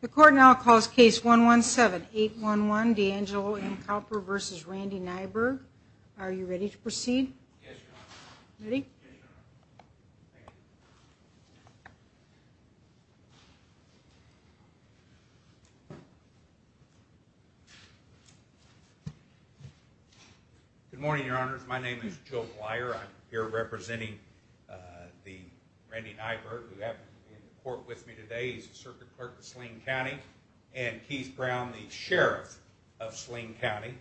The court now calls case 117811 D'Angelo M. Kauper v. Randy Nyberg. Are you ready to proceed? Yes, Your Honor. Ready? Yes, Your Honor. Good morning, Your Honors. My name is Joe Plyer. I'm here representing Randy Nyberg, who happened to be in the court with me today. He's the Circuit Clerk of Sleem County, and Keith Brown, the Sheriff of Sleem County.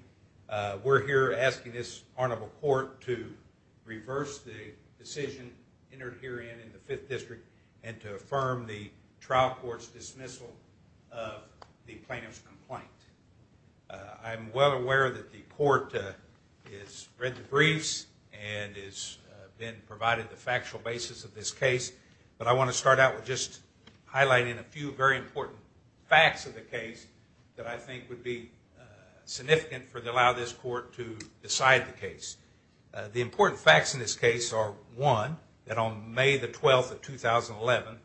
We're here asking this honorable court to reverse the decision entered herein in the Fifth District and to affirm the trial court's dismissal of the plaintiff's complaint. I'm well aware that the court has read the briefs and has been provided the factual basis of this case, but I want to start out with just highlighting a few very important facts of the case that I think would be significant for allowing this court to decide the case. The important facts in this case are, one, that on May the 12th of 2011,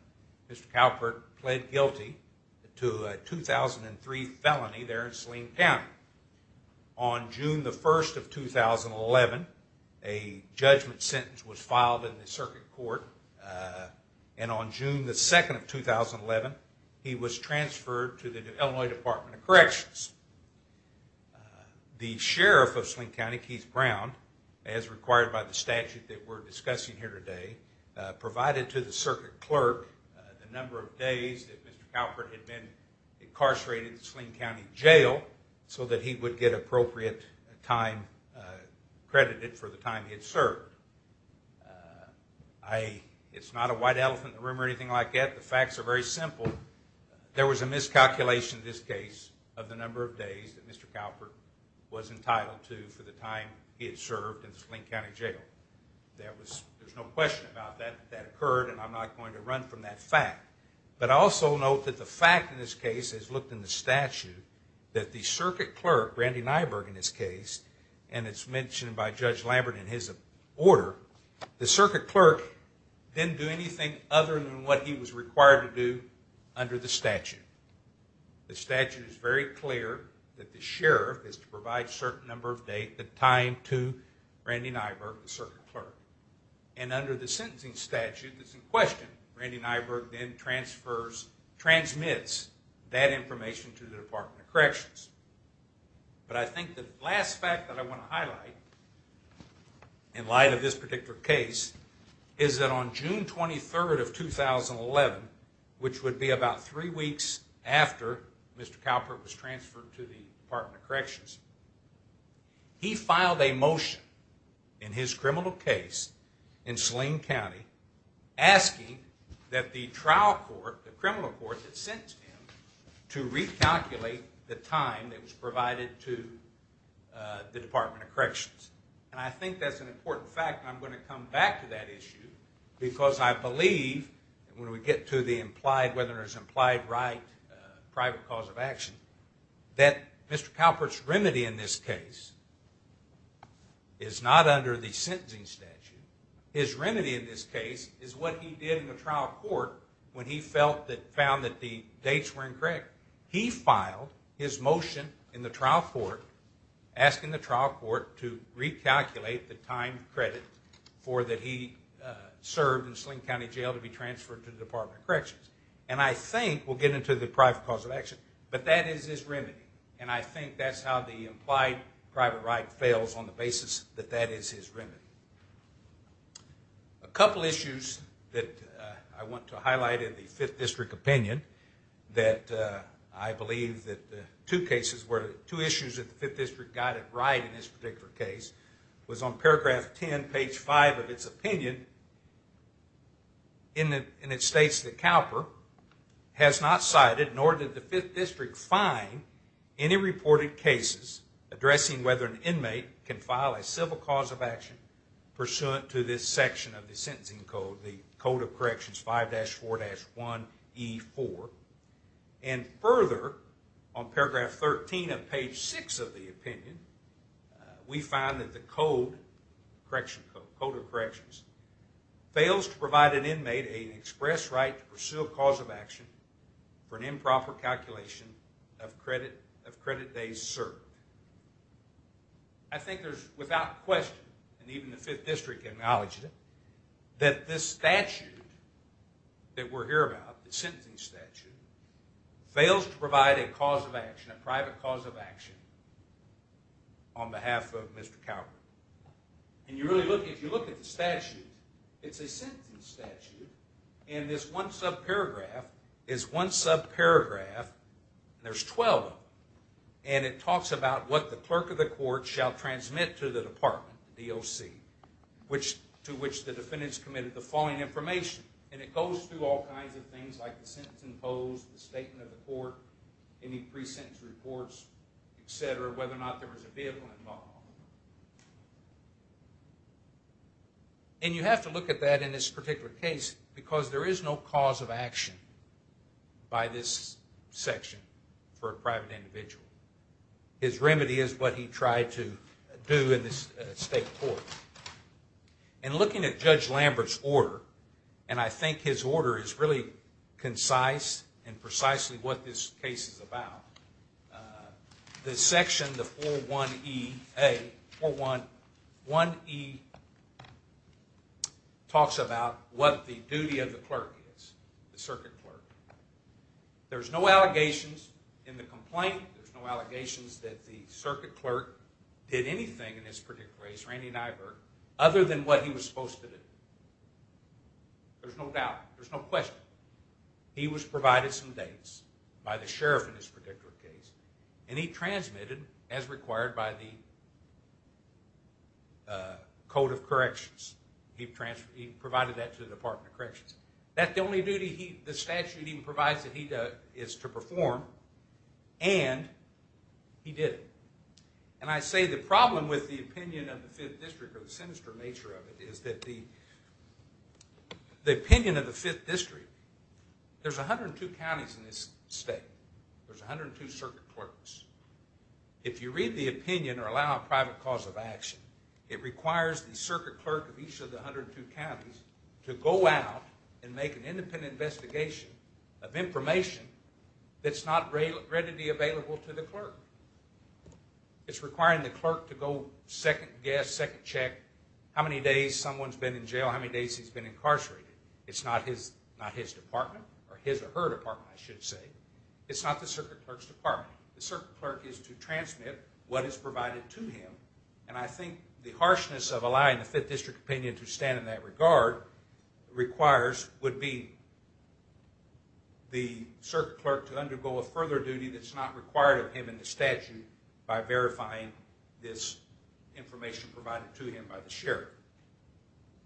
Mr. Kauper pled guilty to a 2003 felony there in Sleem County. On June the 1st of 2011, a judgment sentence was filed in the Circuit Court, and on June the 2nd of 2011, he was transferred to the Illinois Department of Corrections. The Sheriff of Sleem County, Keith Brown, as required by the statute that we're discussing here today, provided to the Circuit Clerk the number of days that Mr. Kauper had been incarcerated in Sleem County Jail so that he would get appropriate time credited for the time he had served. It's not a white elephant in the room or anything like that. The facts are very simple. There was a miscalculation in this case of the number of days that Mr. Kauper was entitled to for the time he had served in Sleem County Jail. There's no question about that. That occurred, and I'm not going to run from that fact. But I also note that the fact in this case, as looked in the statute, that the Circuit Clerk, Brandy Nyberg in this case, and it's mentioned by Judge Lambert in his order, the Circuit Clerk didn't do anything other than what he was required to do under the statute. The statute is very clear that the Sheriff is to provide a certain number of days, a time to Brandy Nyberg, the Circuit Clerk. And under the sentencing statute that's in question, Brandy Nyberg then transmits that information to the Department of Corrections. But I think the last fact that I want to highlight in light of this particular case is that on June 23rd of 2011, which would be about three weeks after Mr. Kauper was transferred to the Department of Corrections, he filed a motion in his criminal case in Sleem County asking that the trial court, the criminal court that sent him, to recalculate the time that was provided to the Department of Corrections. And I think that's an important fact, and I'm going to come back to that issue because I believe, when we get to whether there's implied right, private cause of action, that Mr. Kauper's remedy in this case is not under the sentencing statute. His remedy in this case is what he did in the trial court when he found that the dates were incorrect. He filed his motion in the trial court asking the trial court to recalculate the time credit for that he served in Sleem County Jail to be transferred to the Department of Corrections. And I think we'll get into the private cause of action, but that is his remedy. And I think that's how the implied private right fails, on the basis that that is his remedy. A couple issues that I want to highlight in the Fifth District opinion that I believe that two issues that the Fifth District got it right in this particular case was on paragraph 10, page 5 of its opinion, and it states that Kauper has not cited, nor did the Fifth District find, any reported cases addressing whether an inmate can file a civil cause of action pursuant to this section of the sentencing code, the Code of Corrections 5-4-1E4. And further, on paragraph 13 of page 6 of the opinion, we find that the Code of Corrections fails to provide an inmate an express right to pursue a cause of action for an improper calculation of credit days served. I think there's without question, and even the Fifth District acknowledged it, that this statute that we're here about, the sentencing statute, fails to provide a cause of action, a private cause of action, on behalf of Mr. Kauper. And if you look at the statute, it's a sentencing statute, and this one subparagraph is one subparagraph, and there's 12 of them, and it talks about what the clerk of the court shall transmit to the department, the DOC, to which the defendant's committed the following information. And it goes through all kinds of things, like the sentence imposed, the statement of the court, any pre-sentence reports, etc., whether or not there was a vehicle involved. And you have to look at that in this particular case, because there is no cause of action by this section for a private individual. His remedy is what he tried to do in this state court. And looking at Judge Lambert's order, and I think his order is really concise and precisely what this case is about, this section, the 41EA, 41E, talks about what the duty of the clerk is, the circuit clerk. There's no allegations in the complaint, there's no allegations that the circuit clerk did anything in this particular case, Randy Nyberg, other than what he was supposed to do. There's no doubt, there's no question. He was provided some dates by the sheriff in this particular case, and he transmitted, as required by the Code of Corrections, he provided that to the Department of Corrections. That's the only duty the statute even provides that he is to perform, and he did it. And I say the problem with the opinion of the 5th District, or the sinister nature of it, is that the opinion of the 5th District, there's 102 counties in this state, there's 102 circuit clerks. If you read the opinion or allow a private cause of action, it requires the circuit clerk of each of the 102 counties to go out and make an independent investigation of information that's not readily available to the clerk. It's requiring the clerk to go second guess, second check, how many days someone's been in jail, how many days he's been incarcerated. It's not his department, or his or her department, I should say. It's not the circuit clerk's department. The circuit clerk is to transmit what is provided to him, and I think the harshness of allowing the 5th District opinion to stand in that regard requires would be the circuit clerk to undergo a further duty that's not required of him in the statute by verifying this information provided to him by the sheriff.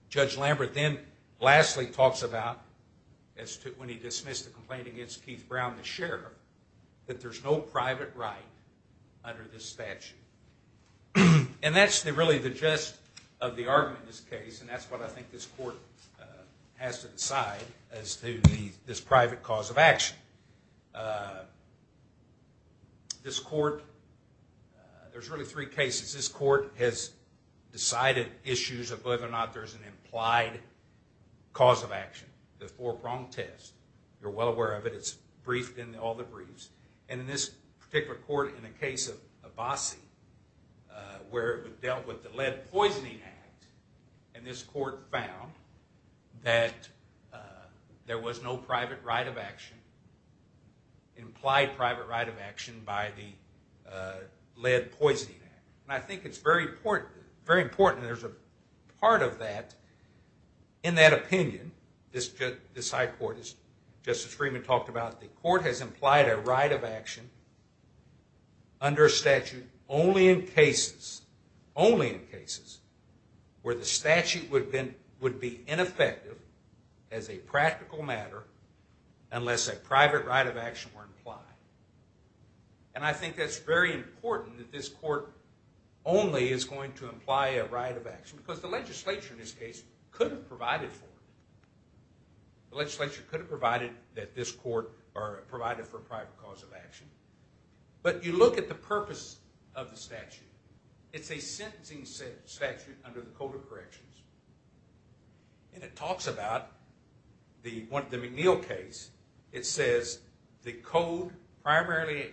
Judge Lambert then lastly talks about, when he dismissed the complaint against Keith Brown, the sheriff, that there's no private right under this statute. And that's really the gist of the argument in this case, and that's what I think this court has to decide as to this private cause of action. This court, there's really three cases. This court has decided issues of whether or not there's an implied cause of action, the four-prong test. You're well aware of it. It's briefed in all the briefs. And in this particular court, in the case of Abassi, where it dealt with the Lead Poisoning Act, and this court found that there was no private right of action, implied private right of action by the Lead Poisoning Act. And I think it's very important, and there's a part of that, in that opinion, this High Court, as Justice Freeman talked about, the court has implied a right of action under statute only in cases, only in cases, where the statute would be ineffective as a practical matter unless a private right of action were implied. And I think that's very important, that this court only is going to imply a right of action, because the legislature, in this case, could have provided for it. The legislature could have provided that this court, or provided for a private cause of action. But you look at the purpose of the statute. It's a sentencing statute under the Code of Corrections. And it talks about the McNeil case. It says, the code primarily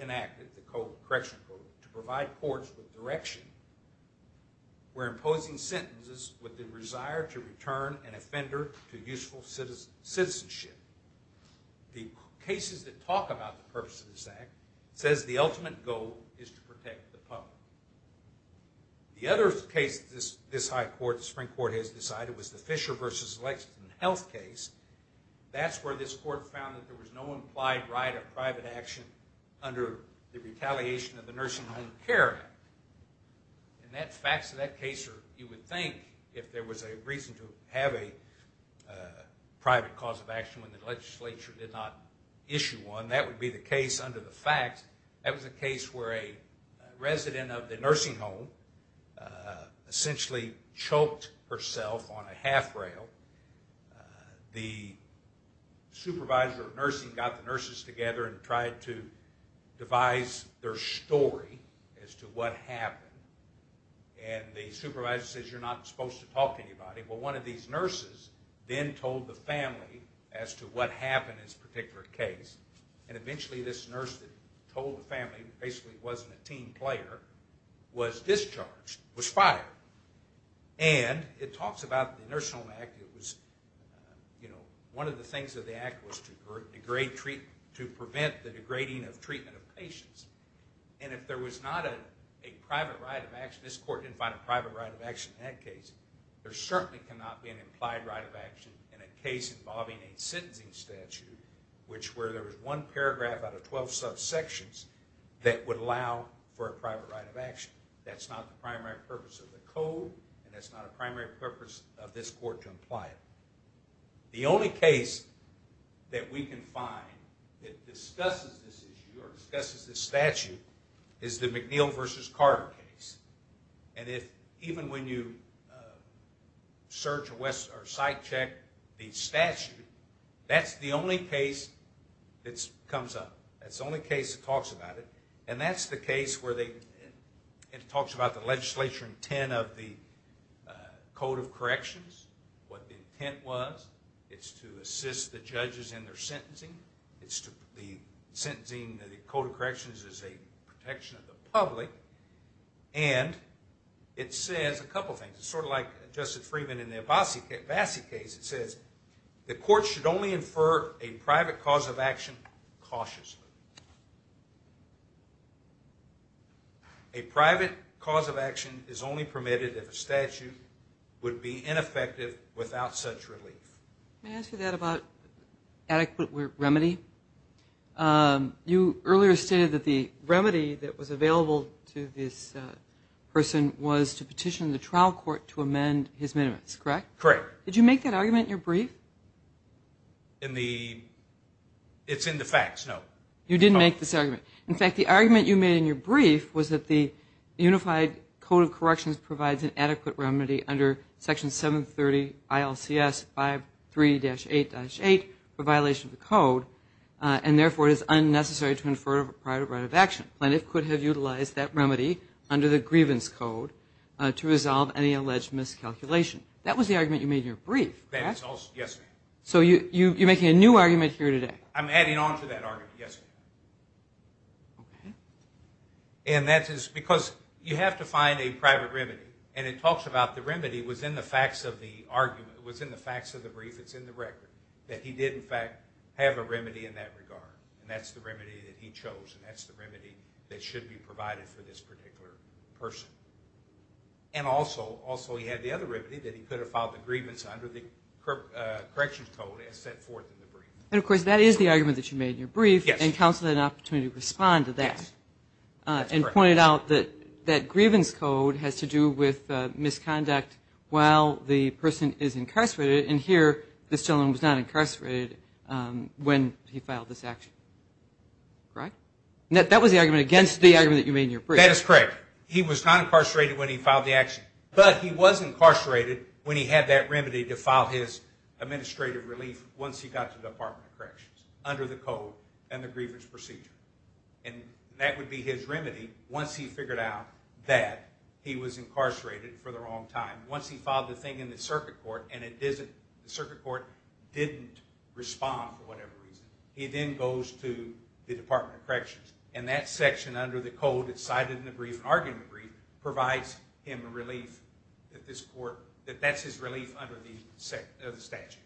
enacted, the correctional code, to provide courts with direction where imposing sentences with the desire to return an offender to useful citizenship. The cases that talk about the purpose of this act says the ultimate goal is to protect the public. The other case this High Court, the Supreme Court has decided, was the Fisher v. Lexington health case. That's where this court found that there was no implied right of private action under the retaliation of the Nursing Home Care Act. And the facts of that case are, you would think, if there was a reason to have a private cause of action when the legislature did not issue one, that would be the case under the facts. That was a case where a resident of the nursing home essentially choked herself on a half rail. The supervisor of nursing got the nurses together and tried to devise their story as to what happened. And the supervisor says, you're not supposed to talk to anybody. Well, one of these nurses then told the family as to what happened in this particular case. And eventually this nurse that told the family, basically wasn't a team player, was discharged, was fired. And it talks about the Nursing Home Act. One of the things of the act was to prevent the degrading of treatment of patients. And if there was not a private right of action, this court didn't find a private right of action in that case, there certainly cannot be an implied right of action in a case involving a sentencing statute, where there was one paragraph out of 12 subsections that would allow for a private right of action. That's not the primary purpose of the code, and that's not a primary purpose of this court to imply it. The only case that we can find that discusses this issue, or discusses this statute, is the McNeil v. Carter case. And even when you search or site check the statute, that's the only case that comes up. That's the only case that talks about it. And that's the case where it talks about the legislature intent of the Code of Corrections, what the intent was. It's to assist the judges in their sentencing. The sentencing of the Code of Corrections is a protection of the public. And it says a couple things. It's sort of like Justice Freeman in the Abbasi case. It says, the court should only infer a private cause of action cautiously. A private cause of action is only permitted if a statute would be ineffective without such relief. May I ask you that about adequate remedy? You earlier stated that the remedy that was available to this person was to petition the trial court to amend his minimums, correct? Correct. Did you make that argument in your brief? In the – it's in the facts, no. You didn't make this argument. In fact, the argument you made in your brief was that the Unified Code of Corrections provides an adequate remedy under Section 730 ILCS 53-8-8 for violation of the Code, and therefore it is unnecessary to infer a private right of action. Plenty could have utilized that remedy under the Grievance Code to resolve any alleged miscalculation. That was the argument you made in your brief, correct? Yes, ma'am. So you're making a new argument here today? I'm adding on to that argument, yes, ma'am. Okay. And that is because you have to find a private remedy, and it talks about the remedy was in the facts of the argument, it was in the facts of the brief, it's in the record, that he did in fact have a remedy in that regard, and that's the remedy that he chose, and that's the remedy that should be provided for this particular person. And also, also he had the other remedy, that he could have filed the grievance under the Corrections Code as set forth in the brief. And, of course, that is the argument that you made in your brief, and counsel had an opportunity to respond to that and pointed out that that Grievance Code has to do with misconduct while the person is incarcerated, and here this gentleman was not incarcerated when he filed this action, correct? That was the argument against the argument that you made in your brief. That is correct. He was not incarcerated when he filed the action, but he was incarcerated when he had that remedy to file his administrative relief once he got to the Department of Corrections under the code and the grievance procedure, and that would be his remedy once he figured out that he was incarcerated for the wrong time. Once he filed the thing in the circuit court and the circuit court didn't respond for whatever reason, he then goes to the Department of Corrections, and that section under the code that's cited in the brief, an argument brief, provides him relief at this court, that that's his relief under the statute.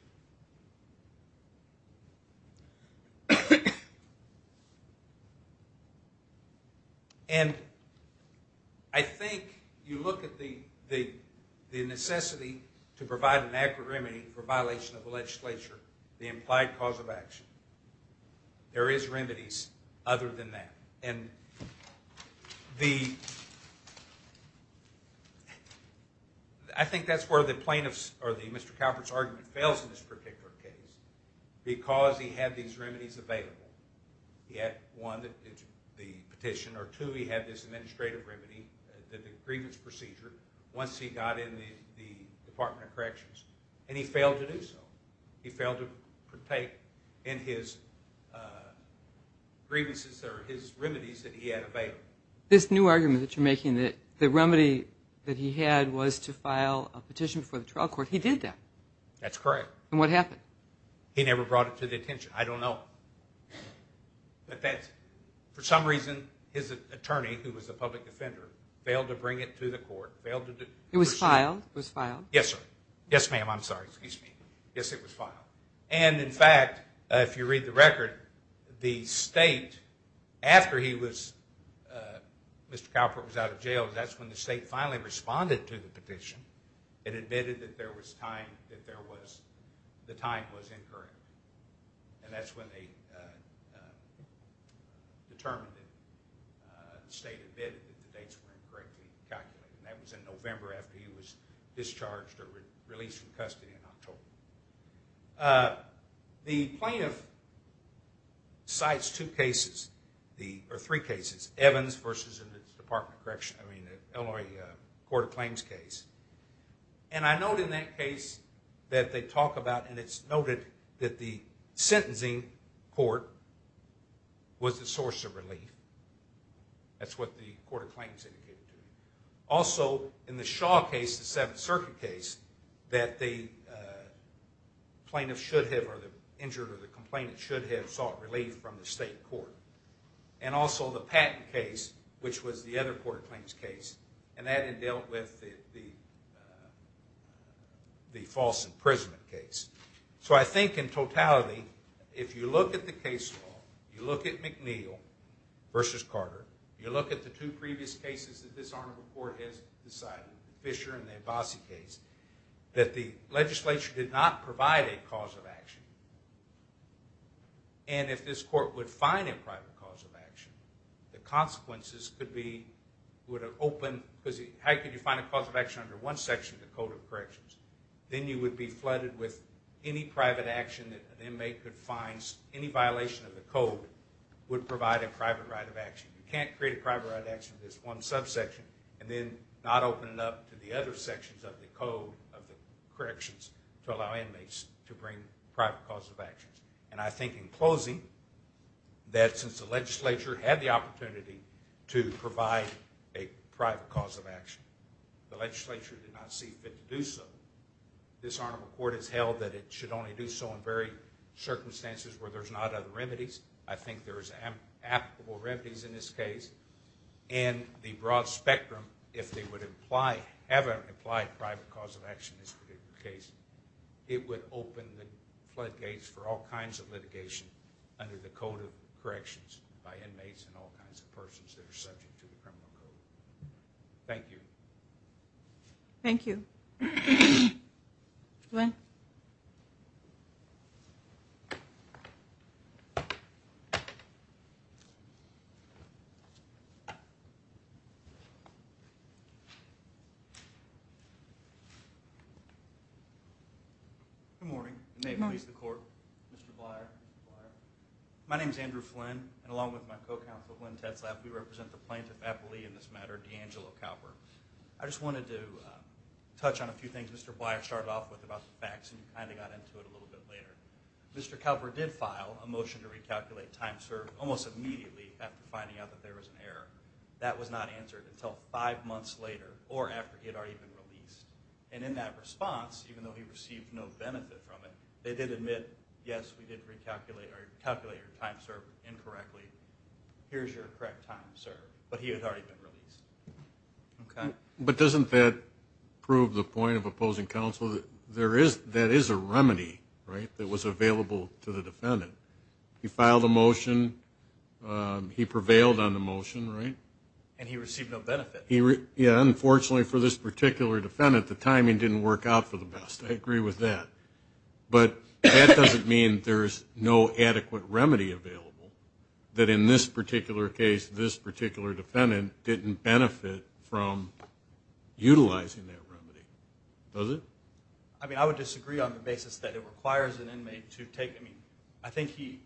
And I think you look at the necessity to provide an accurate remedy for violation of the legislature, the implied cause of action. There is remedies other than that, and I think that's where the plaintiff's or the Mr. Calvert's argument fails in this particular case because he had these remedies available. He had one, the petition, or two, he had this administrative remedy, the grievance procedure, once he got in the Department of Corrections, and he failed to do so. He failed to partake in his grievances or his remedies that he had available. This new argument that you're making, that the remedy that he had was to file a petition for the trial court, he did that. That's correct. And what happened? He never brought it to the attention. I don't know. But for some reason, his attorney, who was a public defender, failed to bring it to the court. It was filed? Yes, sir. Yes, ma'am, I'm sorry. Excuse me. Yes, it was filed. And, in fact, if you read the record, the state, after Mr. Calvert was out of jail, that's when the state finally responded to the petition and admitted that the time was incorrect. And that's when they determined that the state admitted that the dates were incorrectly calculated. And that was in November after he was discharged or released from custody in October. The plaintiff cites two cases, or three cases, Evans versus the Illinois Court of Claims case. And I note in that case that they talk about, and it's noted that the sentencing court was the source of relief. That's what the Court of Claims indicated to me. Also, in the Shaw case, the Seventh Circuit case, that the plaintiff should have, or the injured, or the complainant should have sought relief from the state court. And also the Patton case, which was the other Court of Claims case, and that had dealt with the false imprisonment case. So I think, in totality, if you look at the case law, you look at McNeill versus Carter, you look at the two previous cases that this Arnable Court has decided, the Fisher and the Abbasi case, that the legislature did not provide a cause of action. And if this court would find a private cause of action, the consequences could be, would have opened, because how could you find a cause of action under one section of the Code of Corrections? Then you would be flooded with any private action that an inmate could find. Any violation of the Code would provide a private right of action. You can't create a private right of action in this one subsection and then not open it up to the other sections of the Code of Corrections to allow inmates to bring private cause of actions. And I think, in closing, that since the legislature had the opportunity to provide a private cause of action, the legislature did not see fit to do so. This Arnable Court has held that it should only do so in very circumstances where there's not other remedies. I think there's applicable remedies in this case. In the broad spectrum, if they would have an implied private cause of action in this particular case, it would open the floodgates for all kinds of litigation under the Code of Corrections by inmates and all kinds of persons that are subject to the criminal code. Thank you. Thank you. Glenn. Good morning. The name of the court. Mr. Blier. My name's Andrew Flynn, and along with my co-counsel, Glenn Tetzlaff, we represent the plaintiff appellee in this matter, D'Angelo Kalper. I just wanted to touch on a few things Mr. Blier started off with about the facts, and you kind of got into it a little bit later. Mr. Kalper did file a motion to recalculate time served almost immediately after finding out that there was an error. That was not answered until five months later, or after it had already been released. And in that response, even though he received no benefit from it, they did admit, yes, we did recalculate your time served incorrectly. Here's your correct time served. But he had already been released. But doesn't that prove the point of opposing counsel? That is a remedy that was available to the defendant. He filed a motion. He prevailed on the motion, right? And he received no benefit. Yeah, unfortunately for this particular defendant, the timing didn't work out for the best. I agree with that. But that doesn't mean there's no adequate remedy available, that in this particular case, this particular defendant didn't benefit from utilizing that remedy. Does it? I mean, I would disagree on the basis that it requires an inmate to take, I mean, I think he,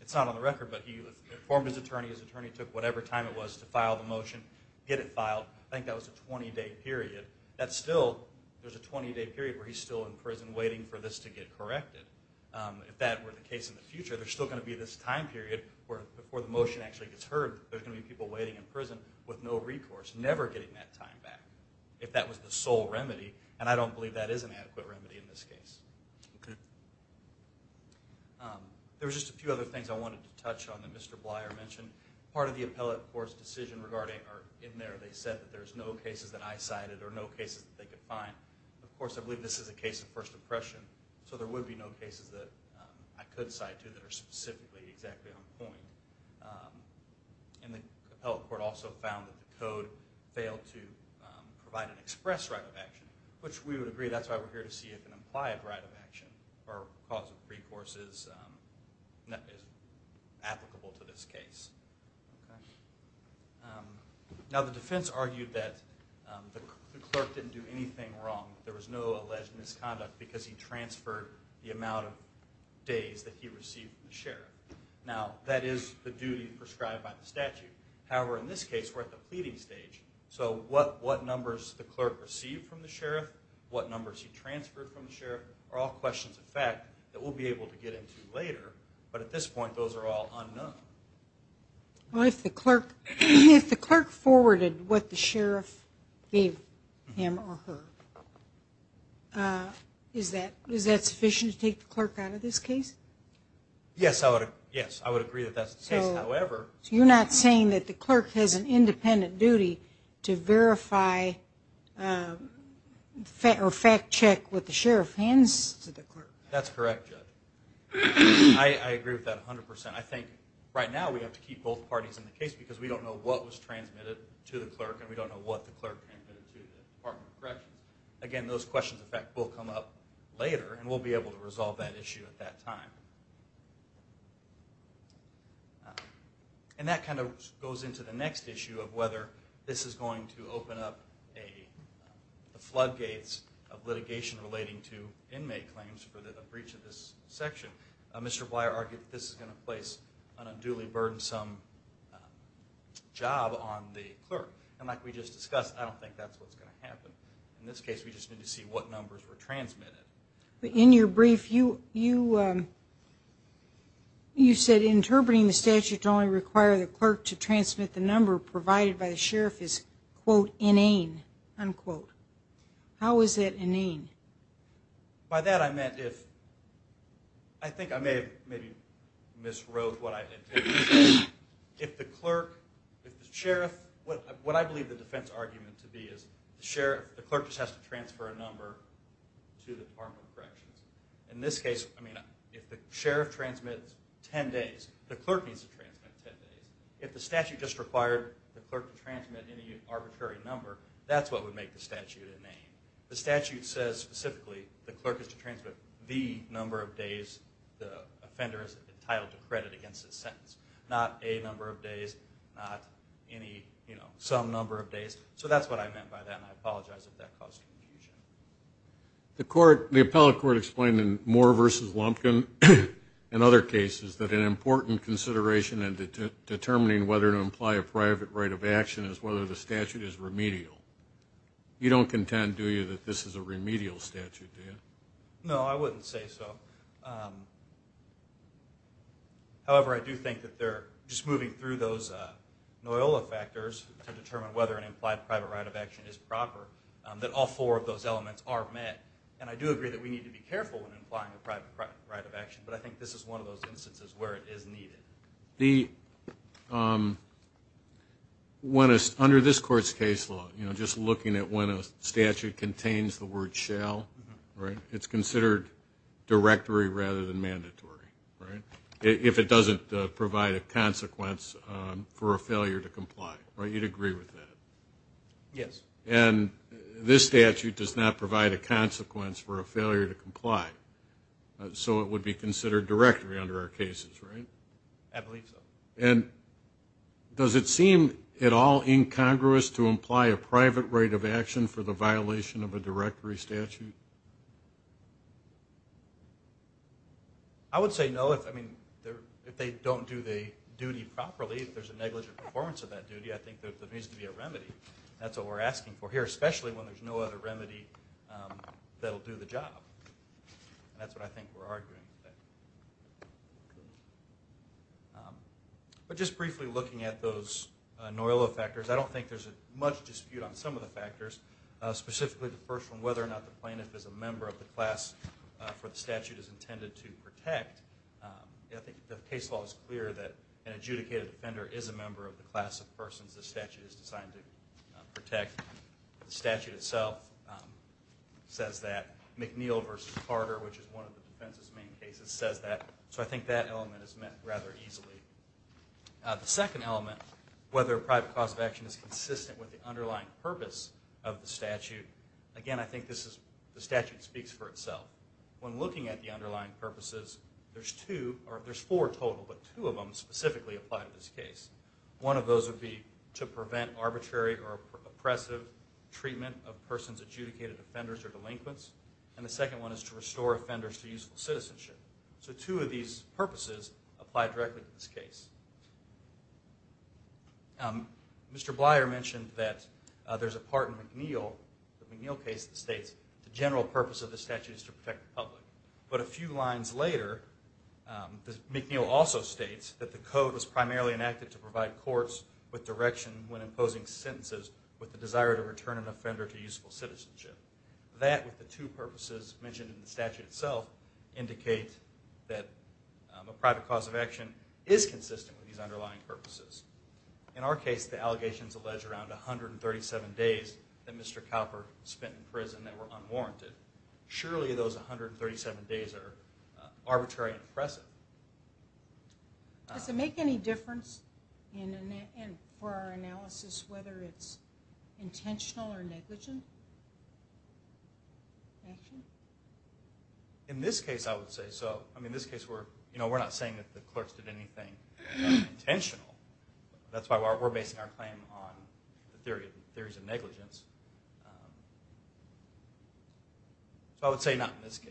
it's not on the record, but he informed his attorney, his attorney took whatever time it was to file the motion, get it filed. I think that was a 20-day period. That's still, there's a 20-day period where he's still in prison waiting for this to get corrected. If that were the case in the future, there's still going to be this time period where before the motion actually gets heard, there's going to be people waiting in prison with no recourse, never getting that time back. If that was the sole remedy, and I don't believe that is an adequate remedy in this case. Okay. There was just a few other things I wanted to touch on that Mr. Blyer mentioned. Part of the appellate court's decision regarding, or in there, they said that there's no cases that I cited or no cases that they could find. Of course, I believe this is a case of first impression, so there would be no cases that I could cite to that are specifically exactly on point. And the appellate court also found that the code failed to provide an express right of action, which we would agree, that's why we're here, to see if an implied right of action or cause of recourse is applicable to this case. Okay. Now, the defense argued that the clerk didn't do anything wrong that there was no alleged misconduct because he transferred the amount of days that he received from the sheriff. Now, that is the duty prescribed by the statute. However, in this case, we're at the pleading stage. So what numbers the clerk received from the sheriff, what numbers he transferred from the sheriff, are all questions of fact that we'll be able to get into later. But at this point, those are all unknown. Well, if the clerk forwarded what the sheriff gave him or her, is that sufficient to take the clerk out of this case? Yes, I would agree that that's the case. However... So you're not saying that the clerk has an independent duty to verify or fact check what the sheriff hands to the clerk? That's correct, Judge. I agree with that 100%. I think right now we have to keep both parties in the case because we don't know what was transmitted to the clerk and we don't know what the clerk transmitted to the Department of Corrections. Again, those questions of fact will come up later and we'll be able to resolve that issue at that time. And that kind of goes into the next issue of whether this is going to open up the floodgates of litigation relating to inmate claims for the breach of this section. Mr. Blier argued that this is going to place an unduly burdensome job on the clerk. And like we just discussed, I don't think that's what's going to happen. In this case, we just need to see what numbers were transmitted. In your brief, you said interpreting the statute to only require the clerk to transmit the number provided by the sheriff is, quote, inane, unquote. How is that inane? By that I meant if... I think I may have maybe miswrote what I intended to say. If the clerk, if the sheriff... What I believe the defense argument to be is the clerk just has to transfer a number to the Department of Corrections. In this case, if the sheriff transmits 10 days, the clerk needs to transmit 10 days. If the statute just required the clerk to transmit any arbitrary number, that's what would make the statute inane. The statute says specifically the clerk has to transmit the number of days the offender is entitled to credit against his sentence, not a number of days, not any, you know, some number of days. So that's what I meant by that, and I apologize if that caused confusion. The court, the appellate court explained in Moore v. Lumpkin and other cases that an important consideration in determining whether to imply a private right of action is whether the statute is remedial. You don't contend, do you, that this is a remedial statute, do you? No, I wouldn't say so. However, I do think that they're just moving through those NOILA factors to determine whether an implied private right of action is proper, that all four of those elements are met. And I do agree that we need to be careful when implying a private right of action, but I think this is one of those instances where it is needed. Under this Court's case law, just looking at when a statute contains the word shall, right, it's considered directory rather than mandatory, right, if it doesn't provide a consequence for a failure to comply, right? You'd agree with that? Yes. So it would be considered directory under our cases, right? I believe so. And does it seem at all incongruous to imply a private right of action for the violation of a directory statute? I would say no. I mean, if they don't do the duty properly, if there's a negligent performance of that duty, I think there needs to be a remedy. That's what we're asking for here, especially when there's no other remedy that will do the job. And that's what I think we're arguing. But just briefly looking at those NOILO factors, I don't think there's much dispute on some of the factors, specifically the first one, whether or not the plaintiff is a member of the class for the statute is intended to protect. I think the case law is clear that an adjudicated offender is a member of the class of persons the statute is designed to protect. The statute itself says that. McNeil v. Carter, which is one of the defense's main cases, says that. So I think that element is met rather easily. The second element, whether a private cause of action is consistent with the underlying purpose of the statute, again, I think the statute speaks for itself. When looking at the underlying purposes, there's four total, but two of them specifically apply to this case. One of those would be to prevent arbitrary or oppressive treatment of persons adjudicated offenders or delinquents. And the second one is to restore offenders to useful citizenship. So two of these purposes apply directly to this case. Mr. Blier mentioned that there's a part in McNeil, the McNeil case, that states the general purpose of the statute is to protect the public. But a few lines later, McNeil also states that the code was primarily enacted to provide courts with direction when imposing sentences with the desire to return an offender to useful citizenship. That, with the two purposes mentioned in the statute itself, indicate that a private cause of action is consistent with these underlying purposes. In our case, the allegations allege around 137 days that Mr. Cowper spent in prison that were unwarranted. Surely those 137 days are arbitrary and oppressive. Does it make any difference for our analysis whether it's intentional or negligent action? In this case, I would say so. I mean, in this case, we're not saying that the clerks did anything unintentional. That's why we're basing our claim on the theories of negligence. So I would say not in this case.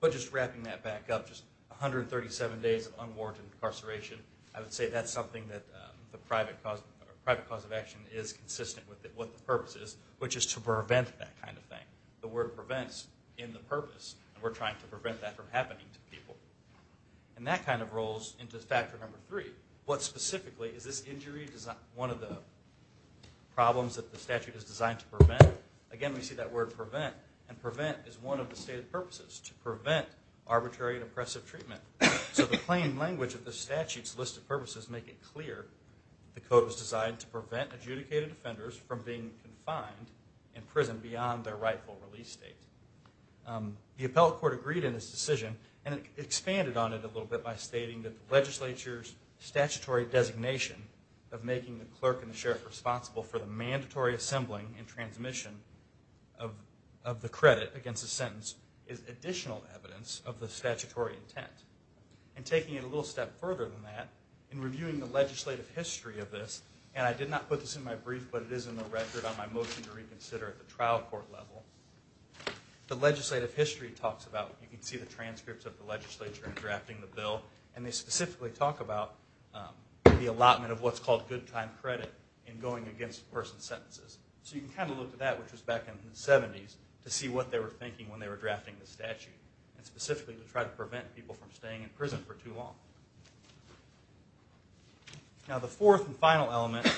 But just wrapping that back up, just 137 days of unwarranted incarceration, I would say that's something that the private cause of action is consistent with what the purpose is, which is to prevent that kind of thing. The word prevents in the purpose, and we're trying to prevent that from happening to people. And that kind of rolls into factor number three. What specifically is this injury one of the problems that the statute is designed to prevent? Again, we see that word prevent. And prevent is one of the stated purposes, to prevent arbitrary and oppressive treatment. So the plain language of the statute's list of purposes make it clear the code was designed to prevent adjudicated offenders from being confined in prison beyond their rightful release date. The appellate court agreed in this decision and expanded on it a little bit by stating that the legislature's statutory designation of making the clerk and the sheriff responsible for the mandatory assembling and transmission of the credit against a sentence is additional evidence of the statutory intent. And taking it a little step further than that, in reviewing the legislative history of this, and I did not put this in my brief, but it is in the record on my motion to reconsider at the trial court level. The legislative history talks about, you can see the transcripts of the trial, and they specifically talk about the allotment of what's called good time credit in going against a person's sentences. So you can kind of look at that, which was back in the 70s, to see what they were thinking when they were drafting the statute, and specifically to try to prevent people from staying in prison for too long. Now the fourth and final element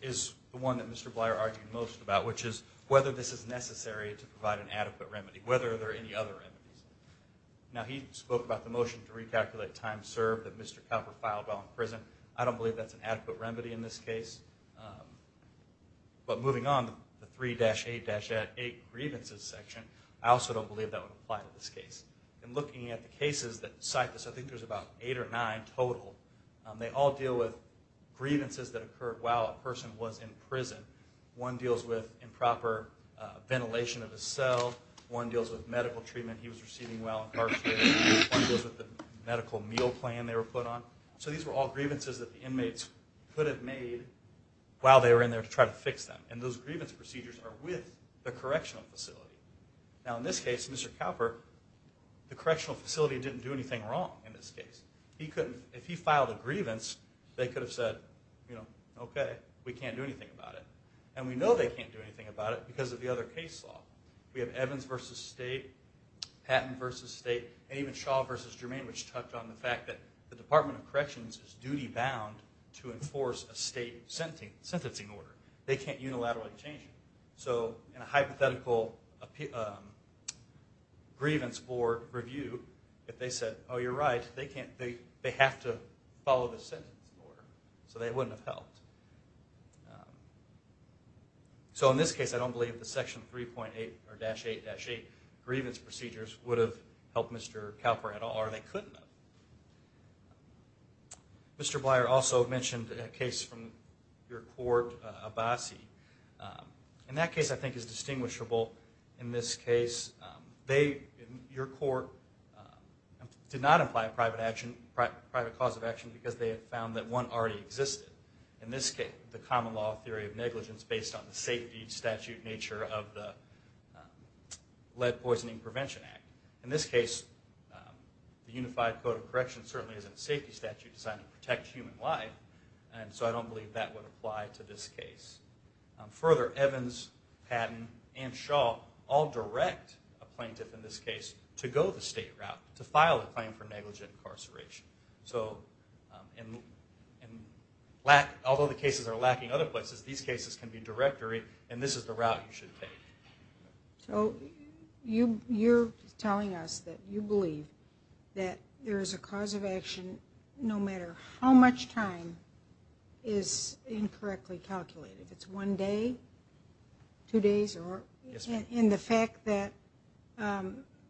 is the one that Mr. Blier argued most about, which is whether this is necessary to provide an adequate remedy, whether there are any other remedies. Now he spoke about the motion to recalculate time served that Mr. Copper filed while in prison. I don't believe that's an adequate remedy in this case. But moving on, the 3-8-8 grievances section, I also don't believe that would apply to this case. And looking at the cases that cite this, I think there's about eight or nine total, they all deal with grievances that occurred while a person was in prison. One deals with improper ventilation of a cell. One deals with medical treatment he was receiving while incarcerated. One deals with the medical meal plan they were put on. So these were all grievances that the inmates could have made while they were in there to try to fix them. And those grievance procedures are with the correctional facility. Now in this case, Mr. Copper, the correctional facility didn't do anything wrong in this case. If he filed a grievance, they could have said, you know, okay, we can't do anything about it. And we know they can't do anything about it because of the other case law. We have Evans v. State, Patton v. State, and even Shaw v. Germain, which touched on the fact that the Department of Corrections is duty-bound to enforce a state sentencing order. They can't unilaterally change it. So in a hypothetical grievance board review, if they said, oh, you're right, they have to follow the sentencing order. So they wouldn't have helped. So in this case, I don't believe the Section 3.8 or Dash 8-8 grievance procedures would have helped Mr. Copper at all, or they couldn't have. Mr. Blier also mentioned a case from your court, Abbasi. And that case I think is distinguishable. In this case, your court did not apply a private cause of action because they had found that one already existed. In this case, the common law theory of negligence based on the safety statute nature of the Lead Poisoning Prevention Act. In this case, the Unified Code of Corrections certainly isn't a safety statute designed to protect human life. And so I don't believe that would apply to this case. Further, Evans, Patton, and Shaw all direct a plaintiff, in this case, to go the state route, to file a claim for negligent incarceration. So although the cases are lacking other places, these cases can be directory, and this is the route you should take. So you're telling us that you believe that there is a cause of action no matter how much time is incorrectly calculated. If it's one day, two days, And the fact that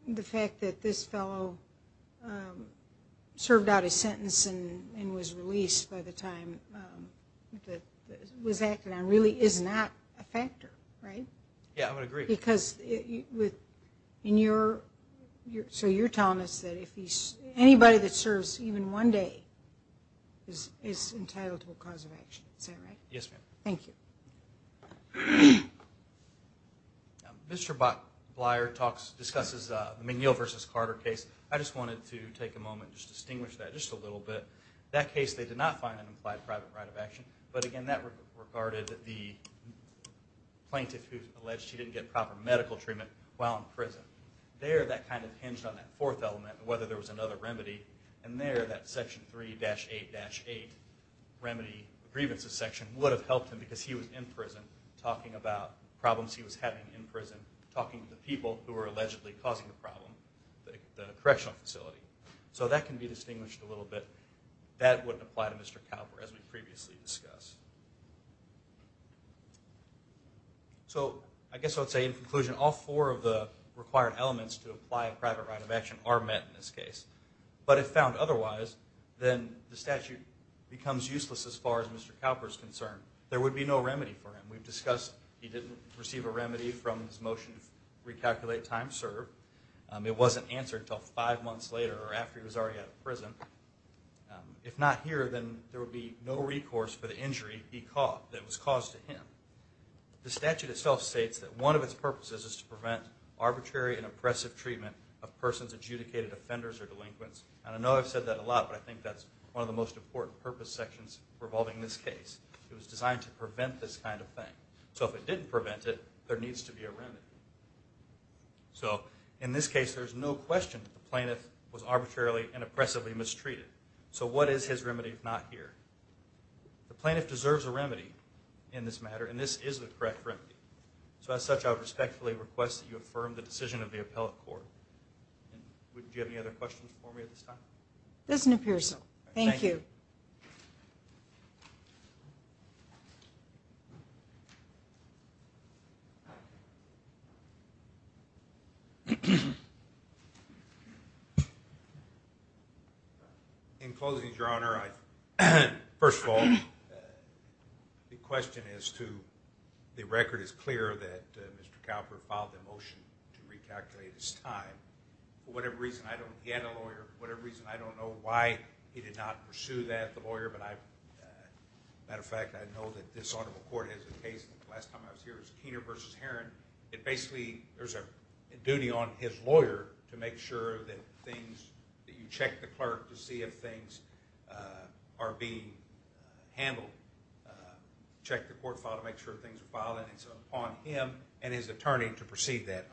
this fellow served out his sentence and was released by the time that it was acted on really is not a factor, right? Yeah, I would agree. Because in your – so you're telling us that anybody that serves even one day is entitled to a cause of action. Is that right? Yes, ma'am. Thank you. Mr. Bleier discusses the McNeill v. Carter case. I just wanted to take a moment and just distinguish that just a little bit. That case, they did not find an implied private right of action, but, again, that regarded the plaintiff who alleged she didn't get proper medical treatment while in prison. There, that kind of hinged on that fourth element of whether there was another remedy, and there, that Section 3-8-8 remedy grievances section would have helped him because he was in prison, talking about problems he was having in prison, talking to the people who were allegedly causing the problem, the correctional facility. So that can be distinguished a little bit. That wouldn't apply to Mr. Cowper, as we previously discussed. So I guess I would say, in conclusion, all four of the required elements to apply a private right of action are met in this case. But if found otherwise, then the statute becomes useless as far as Mr. Cowper is concerned. There would be no remedy for him. We've discussed he didn't receive a remedy from his motion to recalculate time served. It wasn't answered until five months later or after he was already out of prison. If not here, then there would be no recourse for the injury he caused, that was caused to him. The statute itself states that one of its purposes is to prevent arbitrary and oppressive treatment of persons adjudicated offenders or delinquents. And I know I've said that a lot, but I think that's one of the most important purpose sections revolving this case. It was designed to prevent this kind of thing. So if it didn't prevent it, there needs to be a remedy. So in this case, there's no question that the plaintiff was arbitrarily and oppressively mistreated. So what is his remedy if not here? The plaintiff deserves a remedy in this matter, and this is the correct remedy. So as such, I would respectfully request that you affirm the decision of the appellate court. Do you have any other questions for me at this time? It doesn't appear so. Thank you. In closing, Your Honor, first of all, the question is to the record is clear that Mr. Cowper filed a motion to recalculate his time. For whatever reason, I don't get a lawyer. For whatever reason, I don't know why he did not pursue that, the lawyer. But as a matter of fact, I know that this honorable court has a case. The last time I was here, it was Keener v. Herron. It basically, there's a duty on his lawyer to make sure that things, that you check the clerk to see if things are being handled. Check the court file to make sure things are filed. And it's upon him and his attorney to proceed that.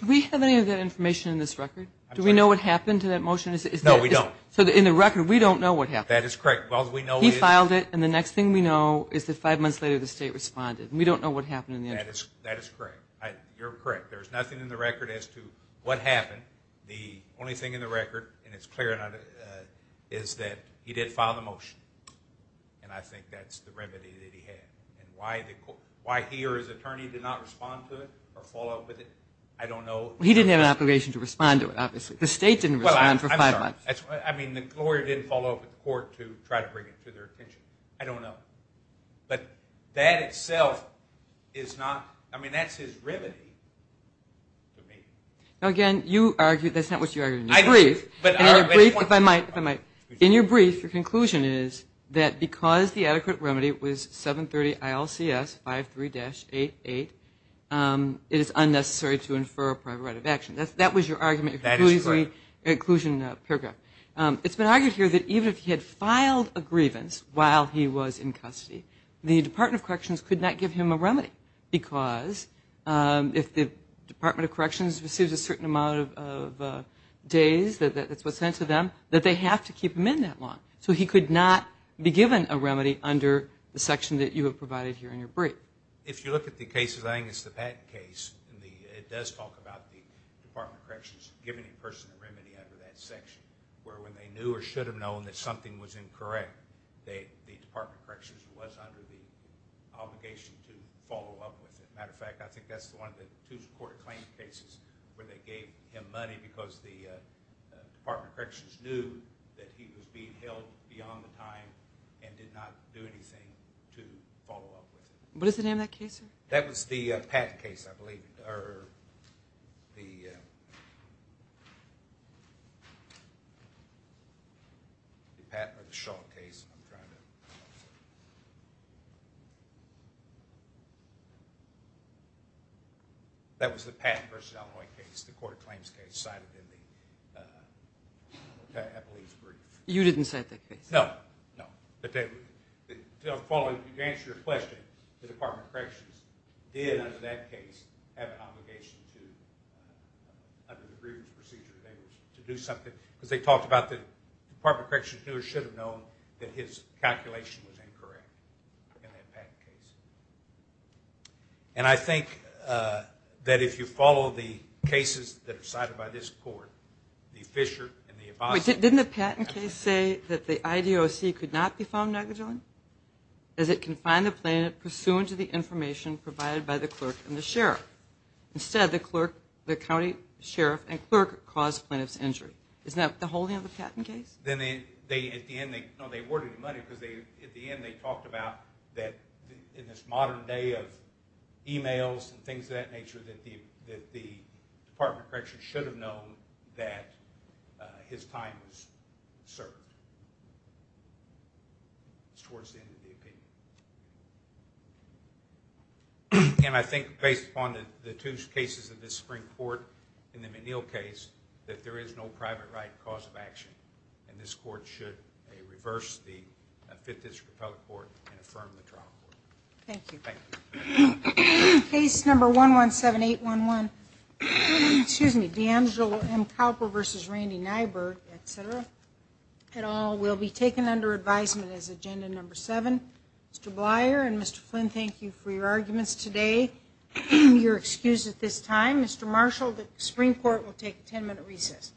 Do we have any of that information in this record? Do we know what happened to that motion? No, we don't. So in the record, we don't know what happened. That is correct. He filed it, and the next thing we know is that five months later, the state responded. We don't know what happened in the end. That is correct. You're correct. There's nothing in the record as to what happened. The only thing in the record, and it's clear enough, is that he did file the motion. And I think that's the remedy that he had. And why he or his attorney did not respond to it or follow up with it, I don't know. He didn't have an obligation to respond to it, obviously. The state didn't respond for five months. I'm sorry. I mean, the lawyer didn't follow up with the court to try to bring it to their attention. I don't know. But that itself is not, I mean, that's his remedy to me. Now, again, you argued, that's not what you argued in your brief. In your brief, if I might, if I might. In your brief, your conclusion is that because the adequate remedy was 730 ILCS 53-88, it is unnecessary to infer a prior right of action. That was your argument. That is correct. Inclusion paragraph. It's been argued here that even if he had filed a grievance while he was in custody, the Department of Corrections could not give him a remedy because if the Department of Corrections receives a certain amount of days, that's what's sent to them, that they have to keep him in that long. So he could not be given a remedy under the section that you have provided here in your brief. If you look at the cases, I think it's the Patton case. It does talk about the Department of Corrections giving a person a remedy under that section where when they knew or should have known that something was incorrect, the Department of Corrections was under the obligation to follow up with it. As a matter of fact, I think that's one of the two court claim cases where they gave him money because the Department of Corrections knew that he was being held beyond the time and did not do anything to follow up with it. What is the name of that case, sir? That was the Patton case, I believe, or the Shaw case. I'm trying to… That was the Patton v. Delroy case, the court claims case, cited in the Eppley's brief. You didn't cite that case? No, no. But to answer your question, the Department of Corrections did, under that case, have an obligation to, under the grievance procedure, to do something because they talked about the Department of Corrections knew or should have known that his calculation was incorrect in that Patton case. And I think that if you follow the cases that are cited by this court, the Fischer and the Abbasi… Wait, didn't the Patton case say that the IDOC could not be found negligent as it confined the plaintiff pursuant to the information provided by the clerk and the sheriff? Instead, the clerk, the county sheriff, and clerk caused the plaintiff's injury. Isn't that the whole name of the Patton case? No, they awarded him money because at the end they talked about that in this modern day of emails and things of that nature, that the Department of Corrections should have known that his time was served. It's towards the end of the opinion. And I think based upon the two cases of this Supreme Court and the Menil case that there is no private right cause of action and this court should reverse the Fifth District Appellate Court and affirm the trial court. Thank you. Case number 117811, DeAngelo M. Cowper v. Randy Nyberg, etc., et al. will be taken under advisement as agenda number seven. Mr. Blyer and Mr. Flynn, thank you for your arguments today, your excuse at this time. Mr. Marshall, the Supreme Court will take a ten-minute recess.